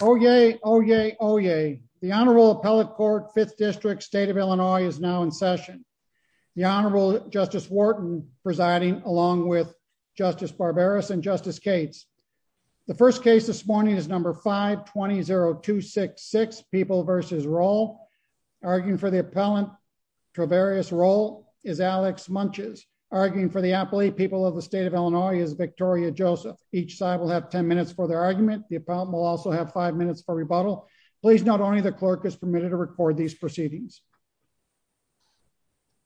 Oh, yay. Oh, yay. Oh, yay. The Honorable Appellate Court, Fifth District, State of Illinois is now in session. The Honorable Justice Wharton presiding along with Justice Barbaros and Justice Cates. The first case this morning is number 520266, People v. Rowell. Arguing for the appellant, Travarious Rowell, is Alex Munches. Arguing for the appellate, People of the State of Illinois is Victoria Joseph. Each side will have 10 minutes for their argument. The appellant will also have 5 minutes for rebuttal. Please note only the clerk is permitted to record these proceedings.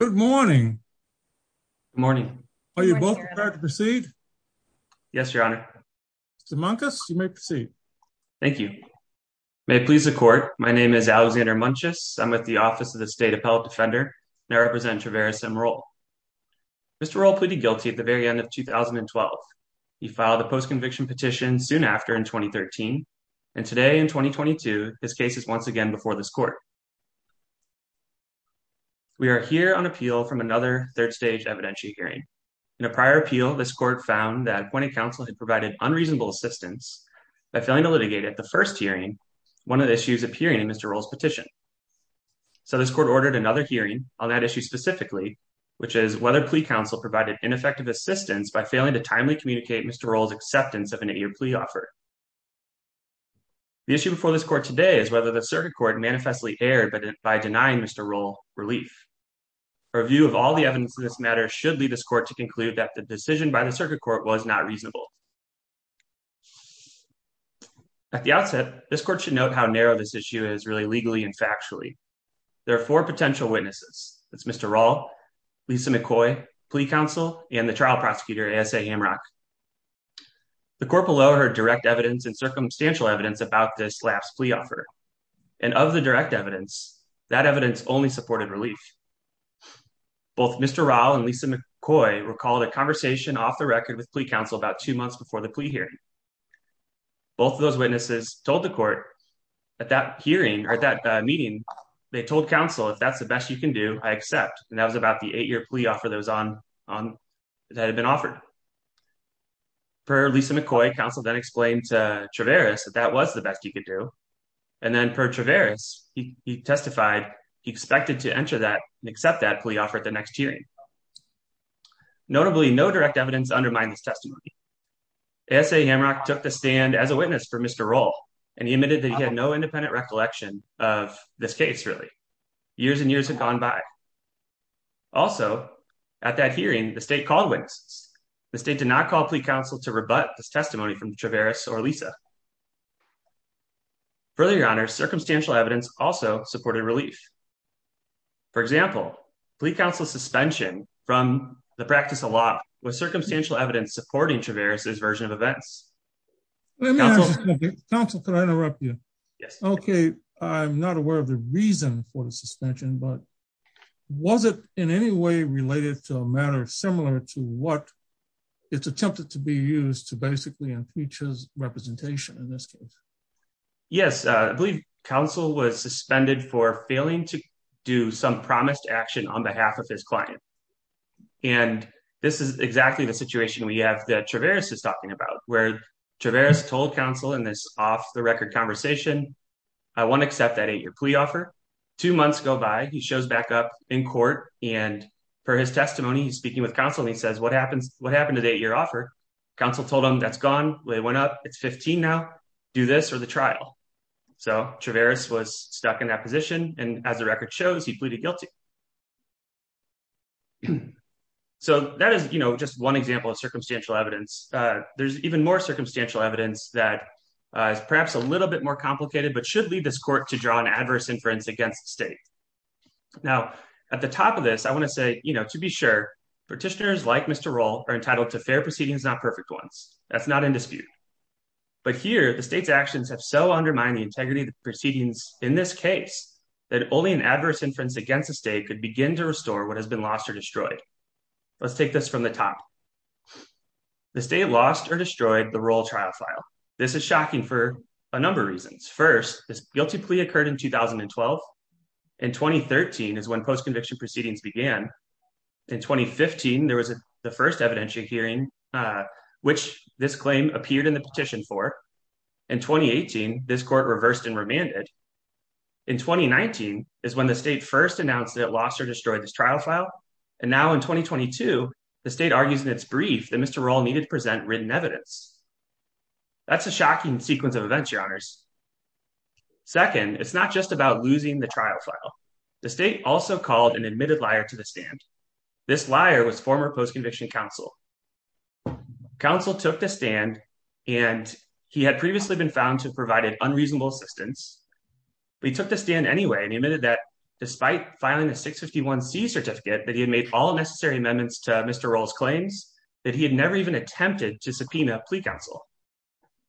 Good morning. Good morning. Are you both prepared to proceed? Yes, Your Honor. Mr. Munches, you may proceed. Thank you. May it please the court, my name is Alexander Munches. I'm with the Office of the State Appellate Defender and I represent Travarious M. Rowell. Mr. Rowell pleaded guilty at the very end of 2012. He filed a post-conviction petition soon after in 2013. And today in 2022, his case is once again before this court. We are here on appeal from another third stage evidentiary hearing. In a prior appeal, this court found that Gwinnett Council had provided unreasonable assistance by failing to litigate at the first hearing, one of the issues appearing in Mr. Rowell's which is whether plea counsel provided ineffective assistance by failing to timely communicate Mr. Rowell's acceptance of an eight-year plea offer. The issue before this court today is whether the circuit court manifestly erred by denying Mr. Rowell relief. A review of all the evidence in this matter should lead this court to conclude that the decision by the circuit court was not reasonable. At the outset, this court should note how narrow this issue is really legally and factually. There are four potential witnesses. That's Mr. Rowell, Lisa McCoy, plea counsel, and the trial prosecutor A.S.A. Hamrock. The court below heard direct evidence and circumstantial evidence about this last plea offer. And of the direct evidence, that evidence only supported relief. Both Mr. Rowell and Lisa McCoy were called a conversation off the record with plea counsel about two months before the plea hearing. Both of those witnesses told the court at that hearing or that meeting, they told counsel, if that's the best you can do, I accept. And that was about the eight-year plea offer that had been offered. Per Lisa McCoy, counsel then explained to Traveris that that was the best you could do. And then per Traveris, he testified he expected to enter that and accept that plea offer at the next hearing. Notably, no direct evidence undermined this testimony. A.S.A. Hamrock took the stand as a witness for Mr. Rowell and he admitted that he had no independent recollection of this case really. Years and years have gone by. Also, at that hearing, the state called witnesses. The state did not call plea counsel to rebut this testimony from Traveris or Lisa. Further, your honors, circumstantial evidence also supported relief. For example, plea counsel's suspension from the practice of law was circumstantial evidence supporting Traveris' version of events. Counsel, could I interrupt you? Yes. Okay. I'm not aware of the reason for the suspension, but was it in any way related to a matter similar to what it's attempted to be used to basically impeach his representation in this case? Yes. I believe counsel was suspended for failing to do some promised action on behalf of his client. This is exactly the situation we have that Traveris is talking about, where Traveris told counsel in this off-the-record conversation, I want to accept that eight-year plea offer. Two months go by, he shows back up in court, and per his testimony, he's speaking with counsel and he says, what happened to the eight-year offer? Counsel told him that's gone, they went up, it's 15 now, do this or the trial. So Traveris was stuck in that position, and as the record shows, he pleaded guilty. So that is just one example of circumstantial evidence. There's even more circumstantial evidence that is perhaps a little bit more complicated, but should lead this court to draw an adverse inference against the state. Now, at the top of this, I want to say, to be sure, petitioners like Mr. Roll are entitled to fair proceedings, not perfect ones. That's not in integrity of the proceedings. In this case, that only an adverse inference against the state could begin to restore what has been lost or destroyed. Let's take this from the top. The state lost or destroyed the Roll trial file. This is shocking for a number of reasons. First, this guilty plea occurred in 2012. In 2013 is when post-conviction proceedings began. In 2015, there was the first hearing, which this claim appeared in the petition for. In 2018, this court reversed and remanded. In 2019 is when the state first announced that it lost or destroyed this trial file. And now in 2022, the state argues in its brief that Mr. Roll needed to present written evidence. That's a shocking sequence of events, your honors. Second, it's not just about losing the trial file. The state also called an admitted liar to the stand. This liar was former post-conviction counsel. Counsel took the stand, and he had previously been found to have provided unreasonable assistance. But he took the stand anyway, and he admitted that despite filing a 651c certificate that he had made all necessary amendments to Mr. Roll's claims, that he had never even attempted to subpoena a plea counsel.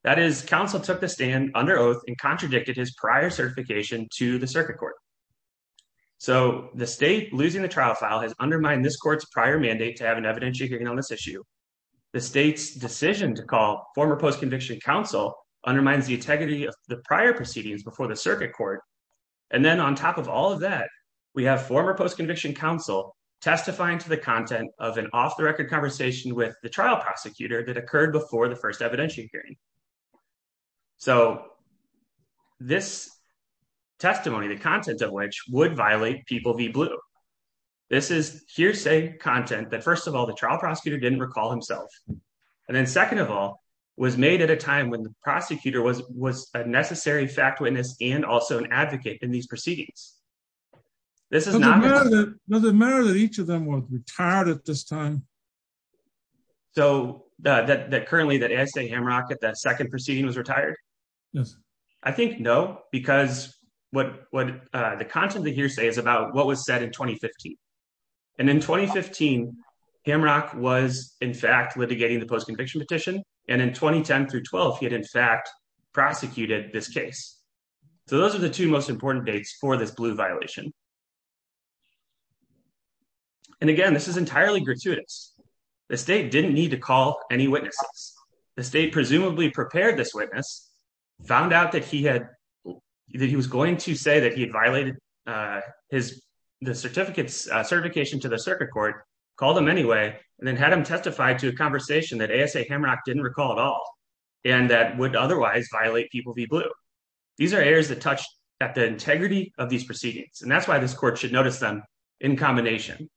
That is, counsel took the stand under oath and contradicted his prior certification to the circuit court. So the state losing the trial file has undermined this court's prior mandate to have an evidentiary hearing on this issue. The state's decision to call former post-conviction counsel undermines the integrity of the prior proceedings before the circuit court. And then on top of all of that, we have former post-conviction counsel testifying to the content of an off-the-record conversation with the trial prosecutor that occurred before the first evidentiary hearing. So this testimony, the content of which, would violate People v. Blue. This is hearsay content that, first of all, the trial prosecutor didn't recall himself. And then second of all, was made at a time when the prosecutor was a necessary fact witness and also an advocate in these proceedings. Does it matter that each of them was retired at this time? So, that currently that A.I. C. Hamrock at that second proceeding was retired? Yes. I think no, because what the content of the hearsay is about what was said in 2015. And in 2015, Hamrock was in fact litigating the post-conviction petition. And in 2010 through 12, he had in fact prosecuted this case. So those are the two most important dates for this Blue violation. And again, this is entirely gratuitous. The state didn't need to call any witnesses. The state presumably prepared this witness, found out that he had, that he was going to say that he had violated his, the certificates, certification to the circuit court, called him anyway, and then had him testify to a conversation that A.I. C. Hamrock didn't recall at all, and that would otherwise violate People v. Blue. These are errors that touch at the integrity of these proceedings. And that's why this court should notice them in combination.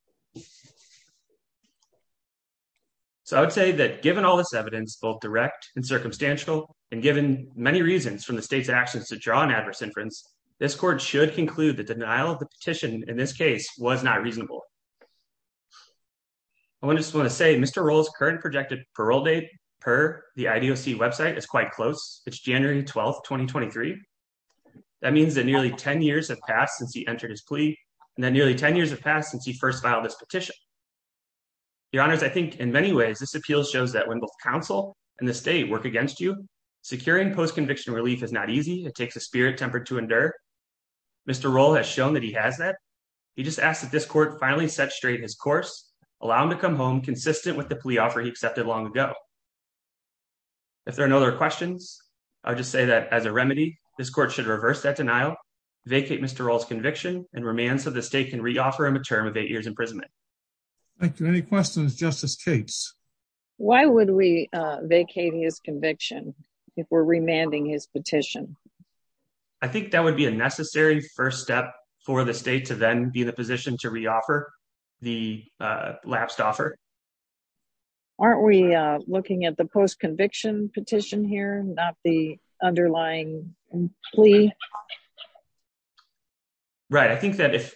So, I would say that given all this evidence, both direct and circumstantial, and given many reasons from the state's actions to draw an adverse inference, this court should conclude the denial of the petition in this case was not reasonable. I just want to say Mr. Roll's current projected parole date per the IDOC website is quite close. It's January 12, 2023. That means that nearly 10 years have passed since he entered his plea, and that nearly 10 years have passed since he first filed this petition. Your Honors, I think in many ways, this appeal shows that when both counsel and the state work against you, securing post-conviction relief is not easy. It takes a spirit tempered to endure. Mr. Roll has shown that he has that. He just asked that this court finally set straight his course, allow him to come home consistent with the plea offer he accepted long ago. If there are no other questions, I would just say that as a remedy, this court should reverse that denial, vacate Mr. Roll's conviction, and remand so the state can reoffer him a term of eight years imprisonment. Thank you. Any questions, Justice Capes? Why would we vacate his conviction if we're remanding his petition? I think that would be a necessary first step for the state to then be in a position to reoffer the lapsed offer. Aren't we looking at the post-conviction petition here, not the underlying plea? Right. I think that if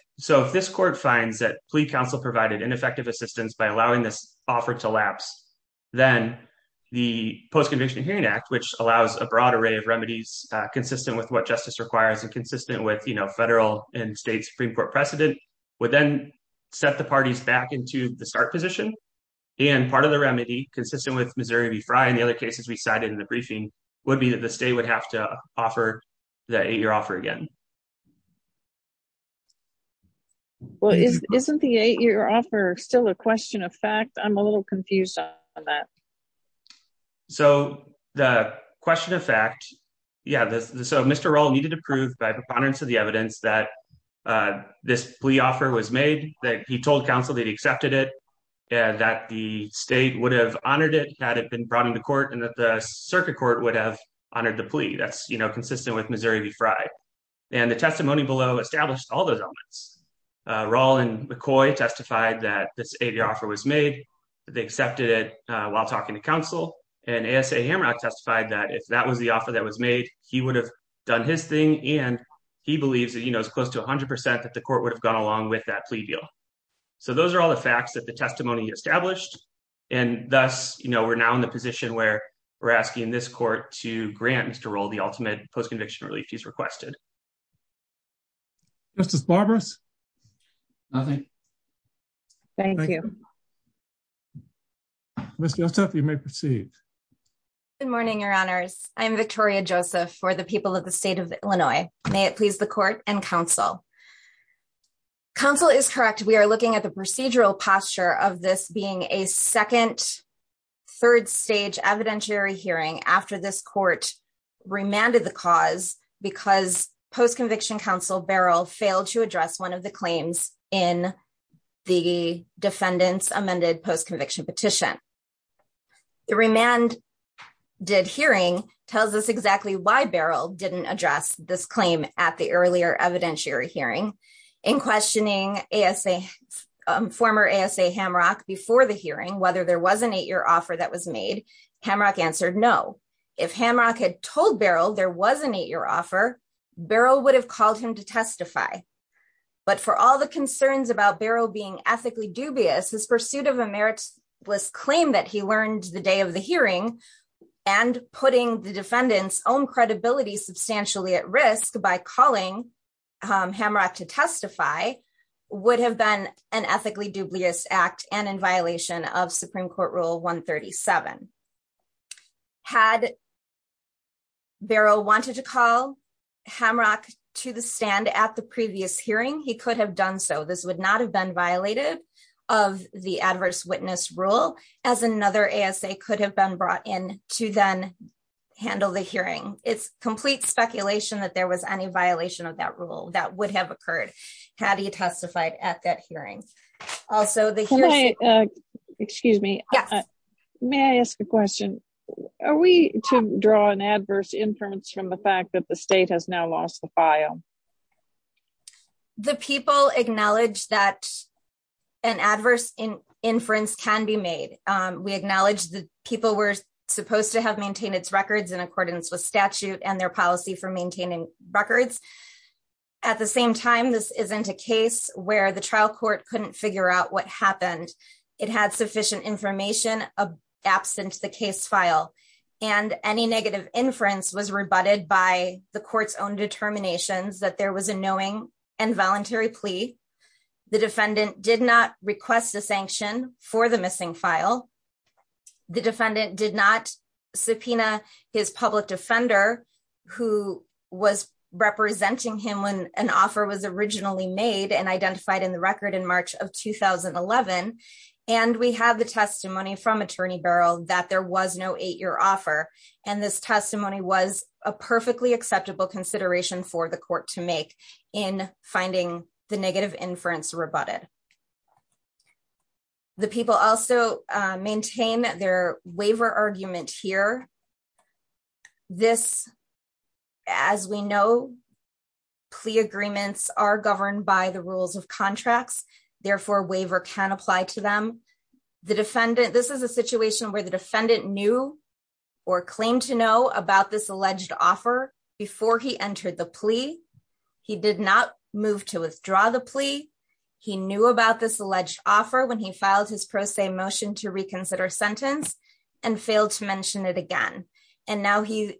this court finds that plea counsel provided ineffective assistance by allowing this offer to lapse, then the Post-Conviction Hearing Act, which allows a broad array of remedies consistent with what justice requires and consistent with federal and state Supreme Court precedent, would then set the parties back into the start position. And part of the remedy consistent with Missouri v. Frye and the other cases we cited in the briefing would be that the state would have to offer the eight-year offer again. Well, isn't the eight-year offer still a question of fact? I'm a little confused on that. So the question of fact, yeah, so Mr. Roll needed to prove by preponderance of the evidence that this plea offer was made, that he told counsel that he accepted it, that the state would have honored it had it been brought into court, and that the circuit court would have honored the plea. That's consistent with Missouri v. Frye. And the testimony below established all those elements. Roll and McCoy testified that this eight-year offer was made. They accepted it while talking to counsel. And A.S.A. Hamrock testified that if that was the offer that was made, he would have done his thing. And he believes that, you know, it's close to 100% that the court would have gone along with that plea deal. So those are all the facts that the testimony established. And thus, you know, we're now in the position where we're asking this court to grant Mr. Roll the ultimate post-conviction relief he's requested. Justice Barberis? Nothing. Thank you. Ms. Joseph, you may proceed. Good morning, Your Honors. I am Victoria Joseph for the people of the state of Illinois. May it please the court and counsel. Counsel is correct. We are looking at the procedural posture of this being a second, third-stage evidentiary hearing after this court remanded the cause because post-conviction counsel Barrel failed to address one of the claims in the defendant's amended post-conviction petition. The remanded hearing tells us exactly why Barrel didn't address this claim at the earlier evidentiary hearing. In questioning A.S.A., former A.S.A. Hamrock before the hearing, whether there was an eight-year offer that was made, Hamrock answered no. If Hamrock had told Barrel there was an eight-year offer, Barrel would have called him to testify. But for all the concerns about Barrel being ethically dubious, his pursuit of a meritless claim that he learned the day of the hearing and putting the defendant's own credibility substantially at risk by calling Hamrock to testify would have been an ethically dubious act and in violation of Supreme Court Rule 137. Had Barrel wanted to call Hamrock to the stand at the previous hearing, he could have done so. This would not have been violated of the adverse witness rule, as another A.S.A. could have been brought in to then handle the hearing. It's complete speculation that there was any violation of that rule that would have occurred had he testified at that hearing. Also, the hearing... Excuse me. May I ask a question? Are we to draw an adverse inference from the fact that the state has now lost the file? The people acknowledge that an adverse inference can be made. We acknowledge that people were supposed to have maintained its records in accordance with statute and their policy for maintaining records. At the same time, this isn't a case where the trial court couldn't figure out what happened. It had sufficient information absent the case file. And any negative inference was rebutted by the court's own determinations that there was a knowing and voluntary plea. The defendant did not request a sanction for the missing file. The defendant did not subpoena his public defender who was representing him when an 11. And we have the testimony from attorney barrel that there was no eight-year offer. And this testimony was a perfectly acceptable consideration for the court to make in finding the negative inference rebutted. The people also maintain their waiver argument here. This, as we know, plea agreements are governed by the rules of contracts. Therefore, waiver can apply to them. This is a situation where the defendant knew or claimed to know about this alleged offer before he entered the plea. He did not move to withdraw the plea. He knew about this alleged offer when he filed his pro se motion to reconsider sentence and failed to mention it again. And now he's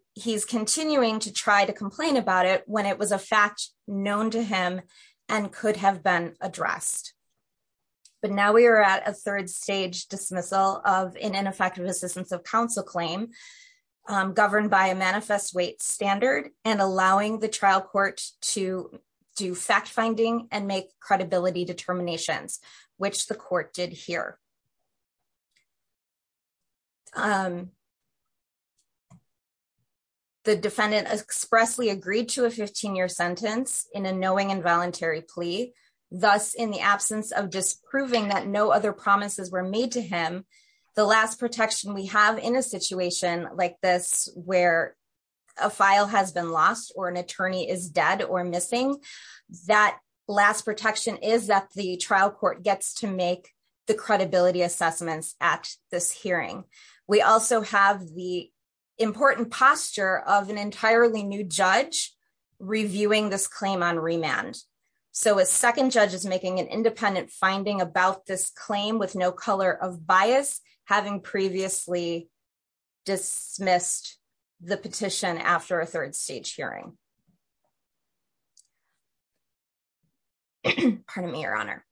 continuing to try to complain about it when it was a fact known to him and could have been addressed. But now we are at a third stage dismissal of an ineffective assistance of counsel claim governed by a manifest weight standard and allowing the trial court to do fact finding and make credibility determinations, which the court did here. The defendant expressly agreed to a 15-year sentence in a knowing and voluntary plea. Thus, in the absence of disproving that no other promises were made to him, the last protection we have in a situation like this where a file has been lost or an attorney is dead or missing, that last protection is that the trial court gets to make the credibility assessments at this hearing. We also have the important posture of an entirely new judge reviewing this claim on remand. So, a second judge is making an independent finding about this claim with no color of bias, having previously dismissed the petition after a third stage hearing. Pardon me, Your Honor.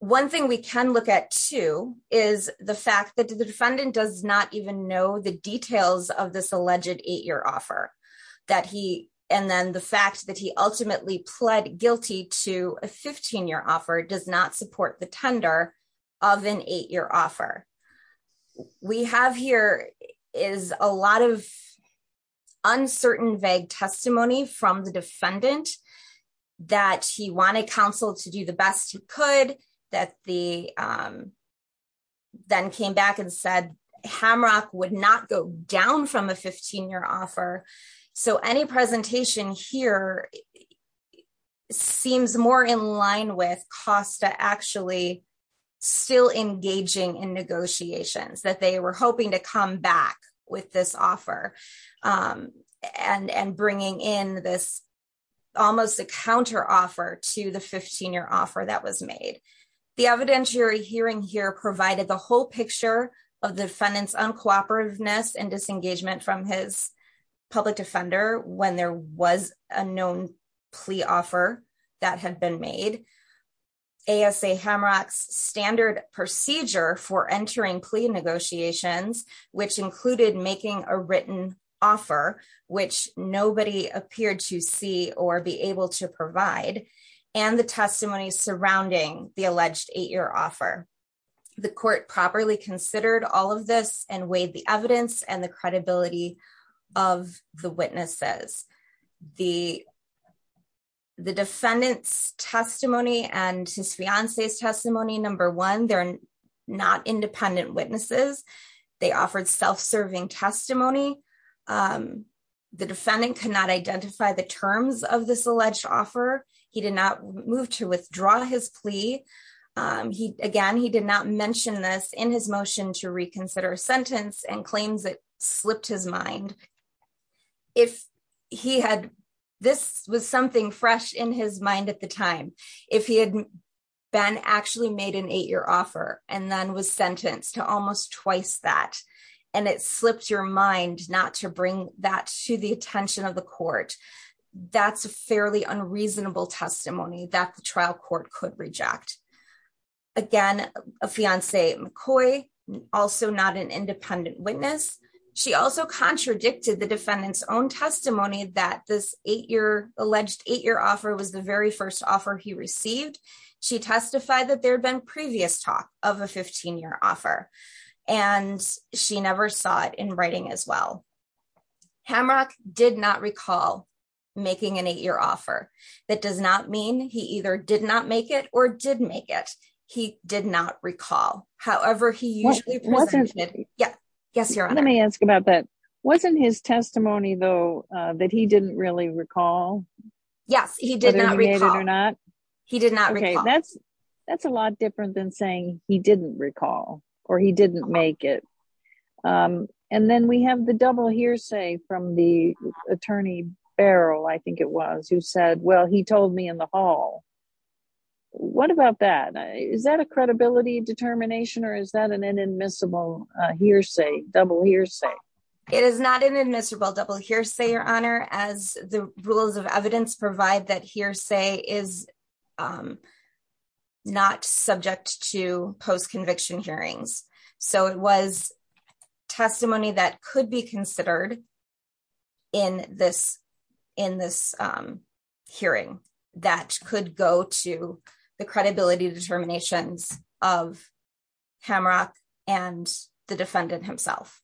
One thing we can look at, too, is the fact that the defendant does not even know the details of this alleged eight-year offer. And then the fact that he ultimately pled guilty to a 15-year offer does not support the tender of an eight-year offer. What we have here is a lot of uncertain vague testimony from the defendant that he wanted counsel to do the best he could, that he then came back and said Hamrock would not go down from a 15-year offer. So, any presentation here seems more in line with Costa actually still engaging in negotiations, that they were hoping to come back with this offer and bringing in this almost a counteroffer to the 15-year offer that was made. The evidentiary hearing here provided the whole public defender when there was a known plea offer that had been made, ASA Hamrock's standard procedure for entering plea negotiations, which included making a written offer, which nobody appeared to see or be able to provide, and the testimony surrounding the alleged eight-year offer. The court properly considered all of this and weighed the evidence and the credibility of the witnesses. The defendant's testimony and his fiance's testimony, number one, they're not independent witnesses. They offered self-serving testimony. The defendant could not identify the terms of this alleged offer. He did not move to withdraw his plea. He, again, he did not mention this in his motion to reconsider a sentence and claims it slipped his mind. If he had, this was something fresh in his mind at the time. If he had been actually made an eight-year offer and then was sentenced to almost twice that, and it slipped your mind not to bring that to the attention of the court, that's a fairly unreasonable testimony that the trial court could reject. Again, a fiance McCoy, also not an independent witness. She also contradicted the defendant's own testimony that this eight-year, alleged eight-year offer was the very first offer he received. She testified that there had been previous talk of a 15-year offer, and she never saw it in writing as well. Hamrock did not recall making an eight-year offer. That does not mean he either did not make it or did make it. He did not recall. However, he usually presented... Yes, yes, you're on. Let me ask about that. Wasn't his testimony, though, that he didn't really recall? Yes, he did not recall. Whether he made it or not? He did not recall. Okay, that's a lot different than saying he didn't recall or he didn't make it. Then we have the double hearsay from the attorney Barrow, I think it was, who said, well, he told me in the hall. What about that? Is that a credibility determination or is that an inadmissible hearsay, double hearsay? It is not an admissible double hearsay, Your Honor, as the rules of evidence provide that hearsay is not subject to post-conviction hearings. It was testimony that could be considered in this hearing that could go to the credibility determinations of Hamrock and the defendant himself.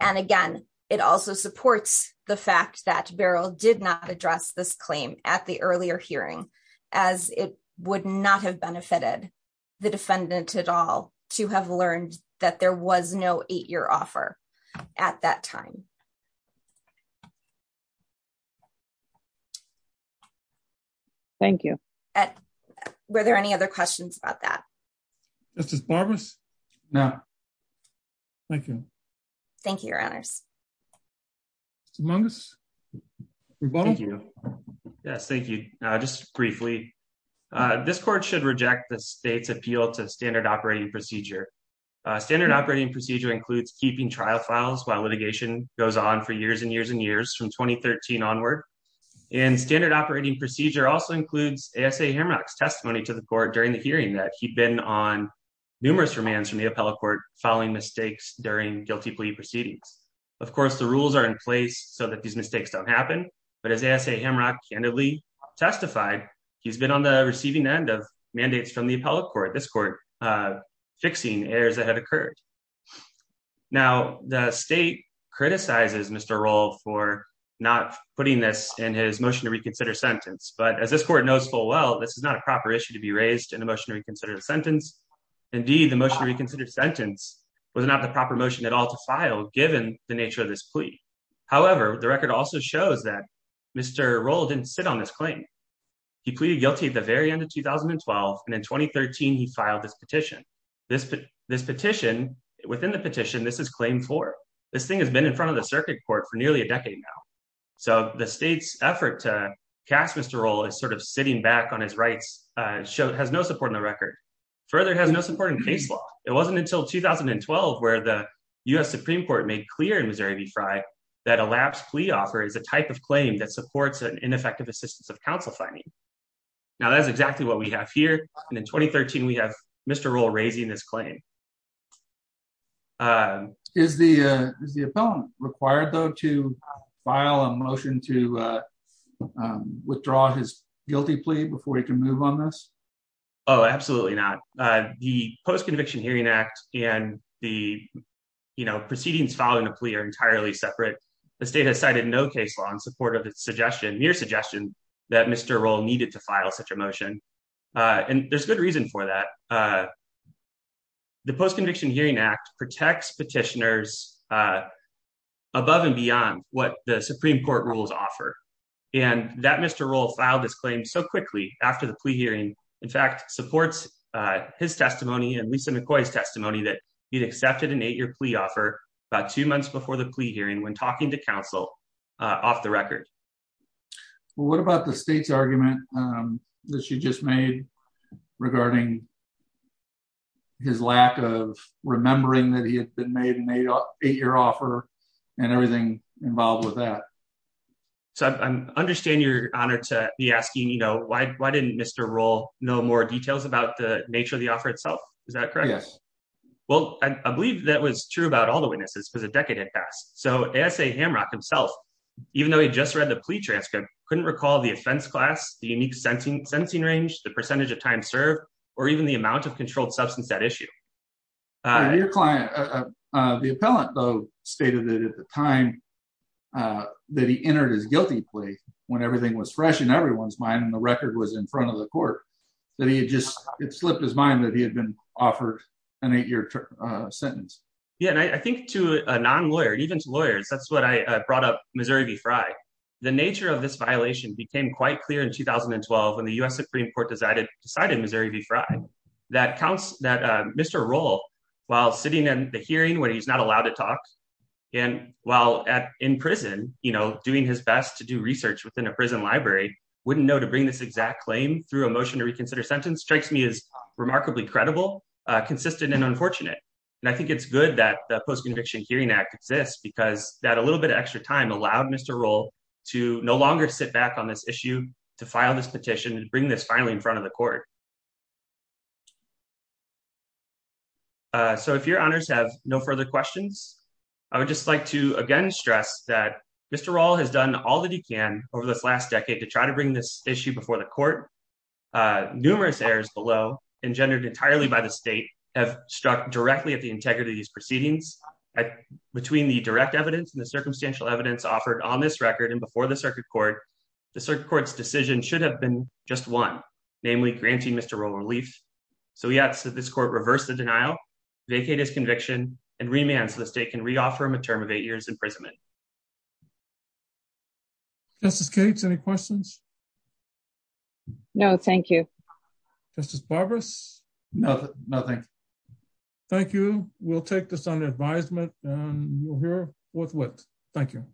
Again, it also supports the fact that Barrow did not address this claim at the earlier hearing as it would not have benefited the to have learned that there was no eight-year offer at that time. Thank you. Were there any other questions about that? Justice Barbas? No. Thank you. Thank you, Your Honors. Mr. Mungus? Yes, thank you. Just briefly, this court should reject the state's appeal to standard operating procedure. Standard operating procedure includes keeping trial files while litigation goes on for years and years and years from 2013 onward. And standard operating procedure also includes A.S.A. Hamrock's testimony to the court during the hearing that he'd been on numerous remands from the appellate court following mistakes during guilty plea proceedings. Of course, the rules are in place so that these mistakes don't happen, but as A.S.A. Hamrock candidly testified, he's been on the receiving end of mandates from the appellate court. This court fixes errors that have occurred. Now, the state criticizes Mr. Roll for not putting this in his motion to reconsider sentence, but as this court knows full well, this is not a proper issue to be raised in a motion to reconsider the sentence. Indeed, the motion to reconsider sentence was not the proper motion at all to file given the nature of this plea. However, the record also shows that Mr. Roll didn't sit on this claim. He pleaded guilty at the very end of 2012, and in 2013, he filed this petition. This petition, within the petition, this is claim four. This thing has been in front of the circuit court for nearly a decade now. So the state's effort to cast Mr. Roll as sort of sitting back on his rights has no support in the record. Further, it has no support in case law. It wasn't until 2012 where the U.S. Supreme Court made clear in Missouri v. Frye that a lapse plea offer is a type of claim that supports an ineffective assistance of counsel finding. Now, that's exactly what we have here, and in 2013, we have Mr. Roll raising this claim. Is the appellant required, though, to file a motion to withdraw his guilty plea before he can move on this? Oh, absolutely not. The Post-Conviction Hearing Act and the, you know, proceedings following the plea are entirely separate. The state has cited no case law in mere suggestion that Mr. Roll needed to file such a motion, and there's good reason for that. The Post-Conviction Hearing Act protects petitioners above and beyond what the Supreme Court rules offer, and that Mr. Roll filed this claim so quickly after the plea hearing, in fact, supports his testimony and Lisa McCoy's testimony that he'd accepted an eight-year plea offer about two months before the plea hearing when talking to counsel off the record. Well, what about the state's argument that you just made regarding his lack of remembering that he had been made an eight-year offer and everything involved with that? So, I understand you're honored to be asking, you know, why didn't Mr. Roll know more details about the nature of the witnesses because a decade had passed. So, A.S.A. Hamrock himself, even though he'd just read the plea transcript, couldn't recall the offense class, the unique sentencing range, the percentage of time served, or even the amount of controlled substance at issue. Your client, the appellant, though, stated that at the time that he entered his guilty plea, when everything was fresh in everyone's mind and the record was in front of the court, that he had just, it slipped his mind that he had been offered an eight-year sentence. Yeah, and I think to a non-lawyer, even to lawyers, that's what I brought up Missouri v. Frye. The nature of this violation became quite clear in 2012 when the U.S. Supreme Court decided Missouri v. Frye that Mr. Roll, while sitting in the hearing where he's not allowed to talk and while in prison, you know, doing his best to do research within a prison library, wouldn't know to bring this exact claim through a motion to consistent and unfortunate. And I think it's good that the Post-Conviction Hearing Act exists because that a little bit of extra time allowed Mr. Roll to no longer sit back on this issue, to file this petition and bring this finally in front of the court. So if your honors have no further questions, I would just like to again stress that Mr. Roll has done all that he can over this last decade to try to bring this issue before the court. Numerous errors below, engendered entirely by the state, have struck directly at the integrity of these proceedings. Between the direct evidence and the circumstantial evidence offered on this record and before the circuit court, the circuit court's decision should have been just one, namely granting Mr. Roll relief. So we ask that this court reverse the denial, vacate his conviction, and remand so the state can re-offer him a term of eight years imprisonment. Thank you. Justice Cates, any questions? No, thank you. Justice Barberis? No, nothing. Thank you. We'll take this under advisement and we'll hear what's what. Thank you.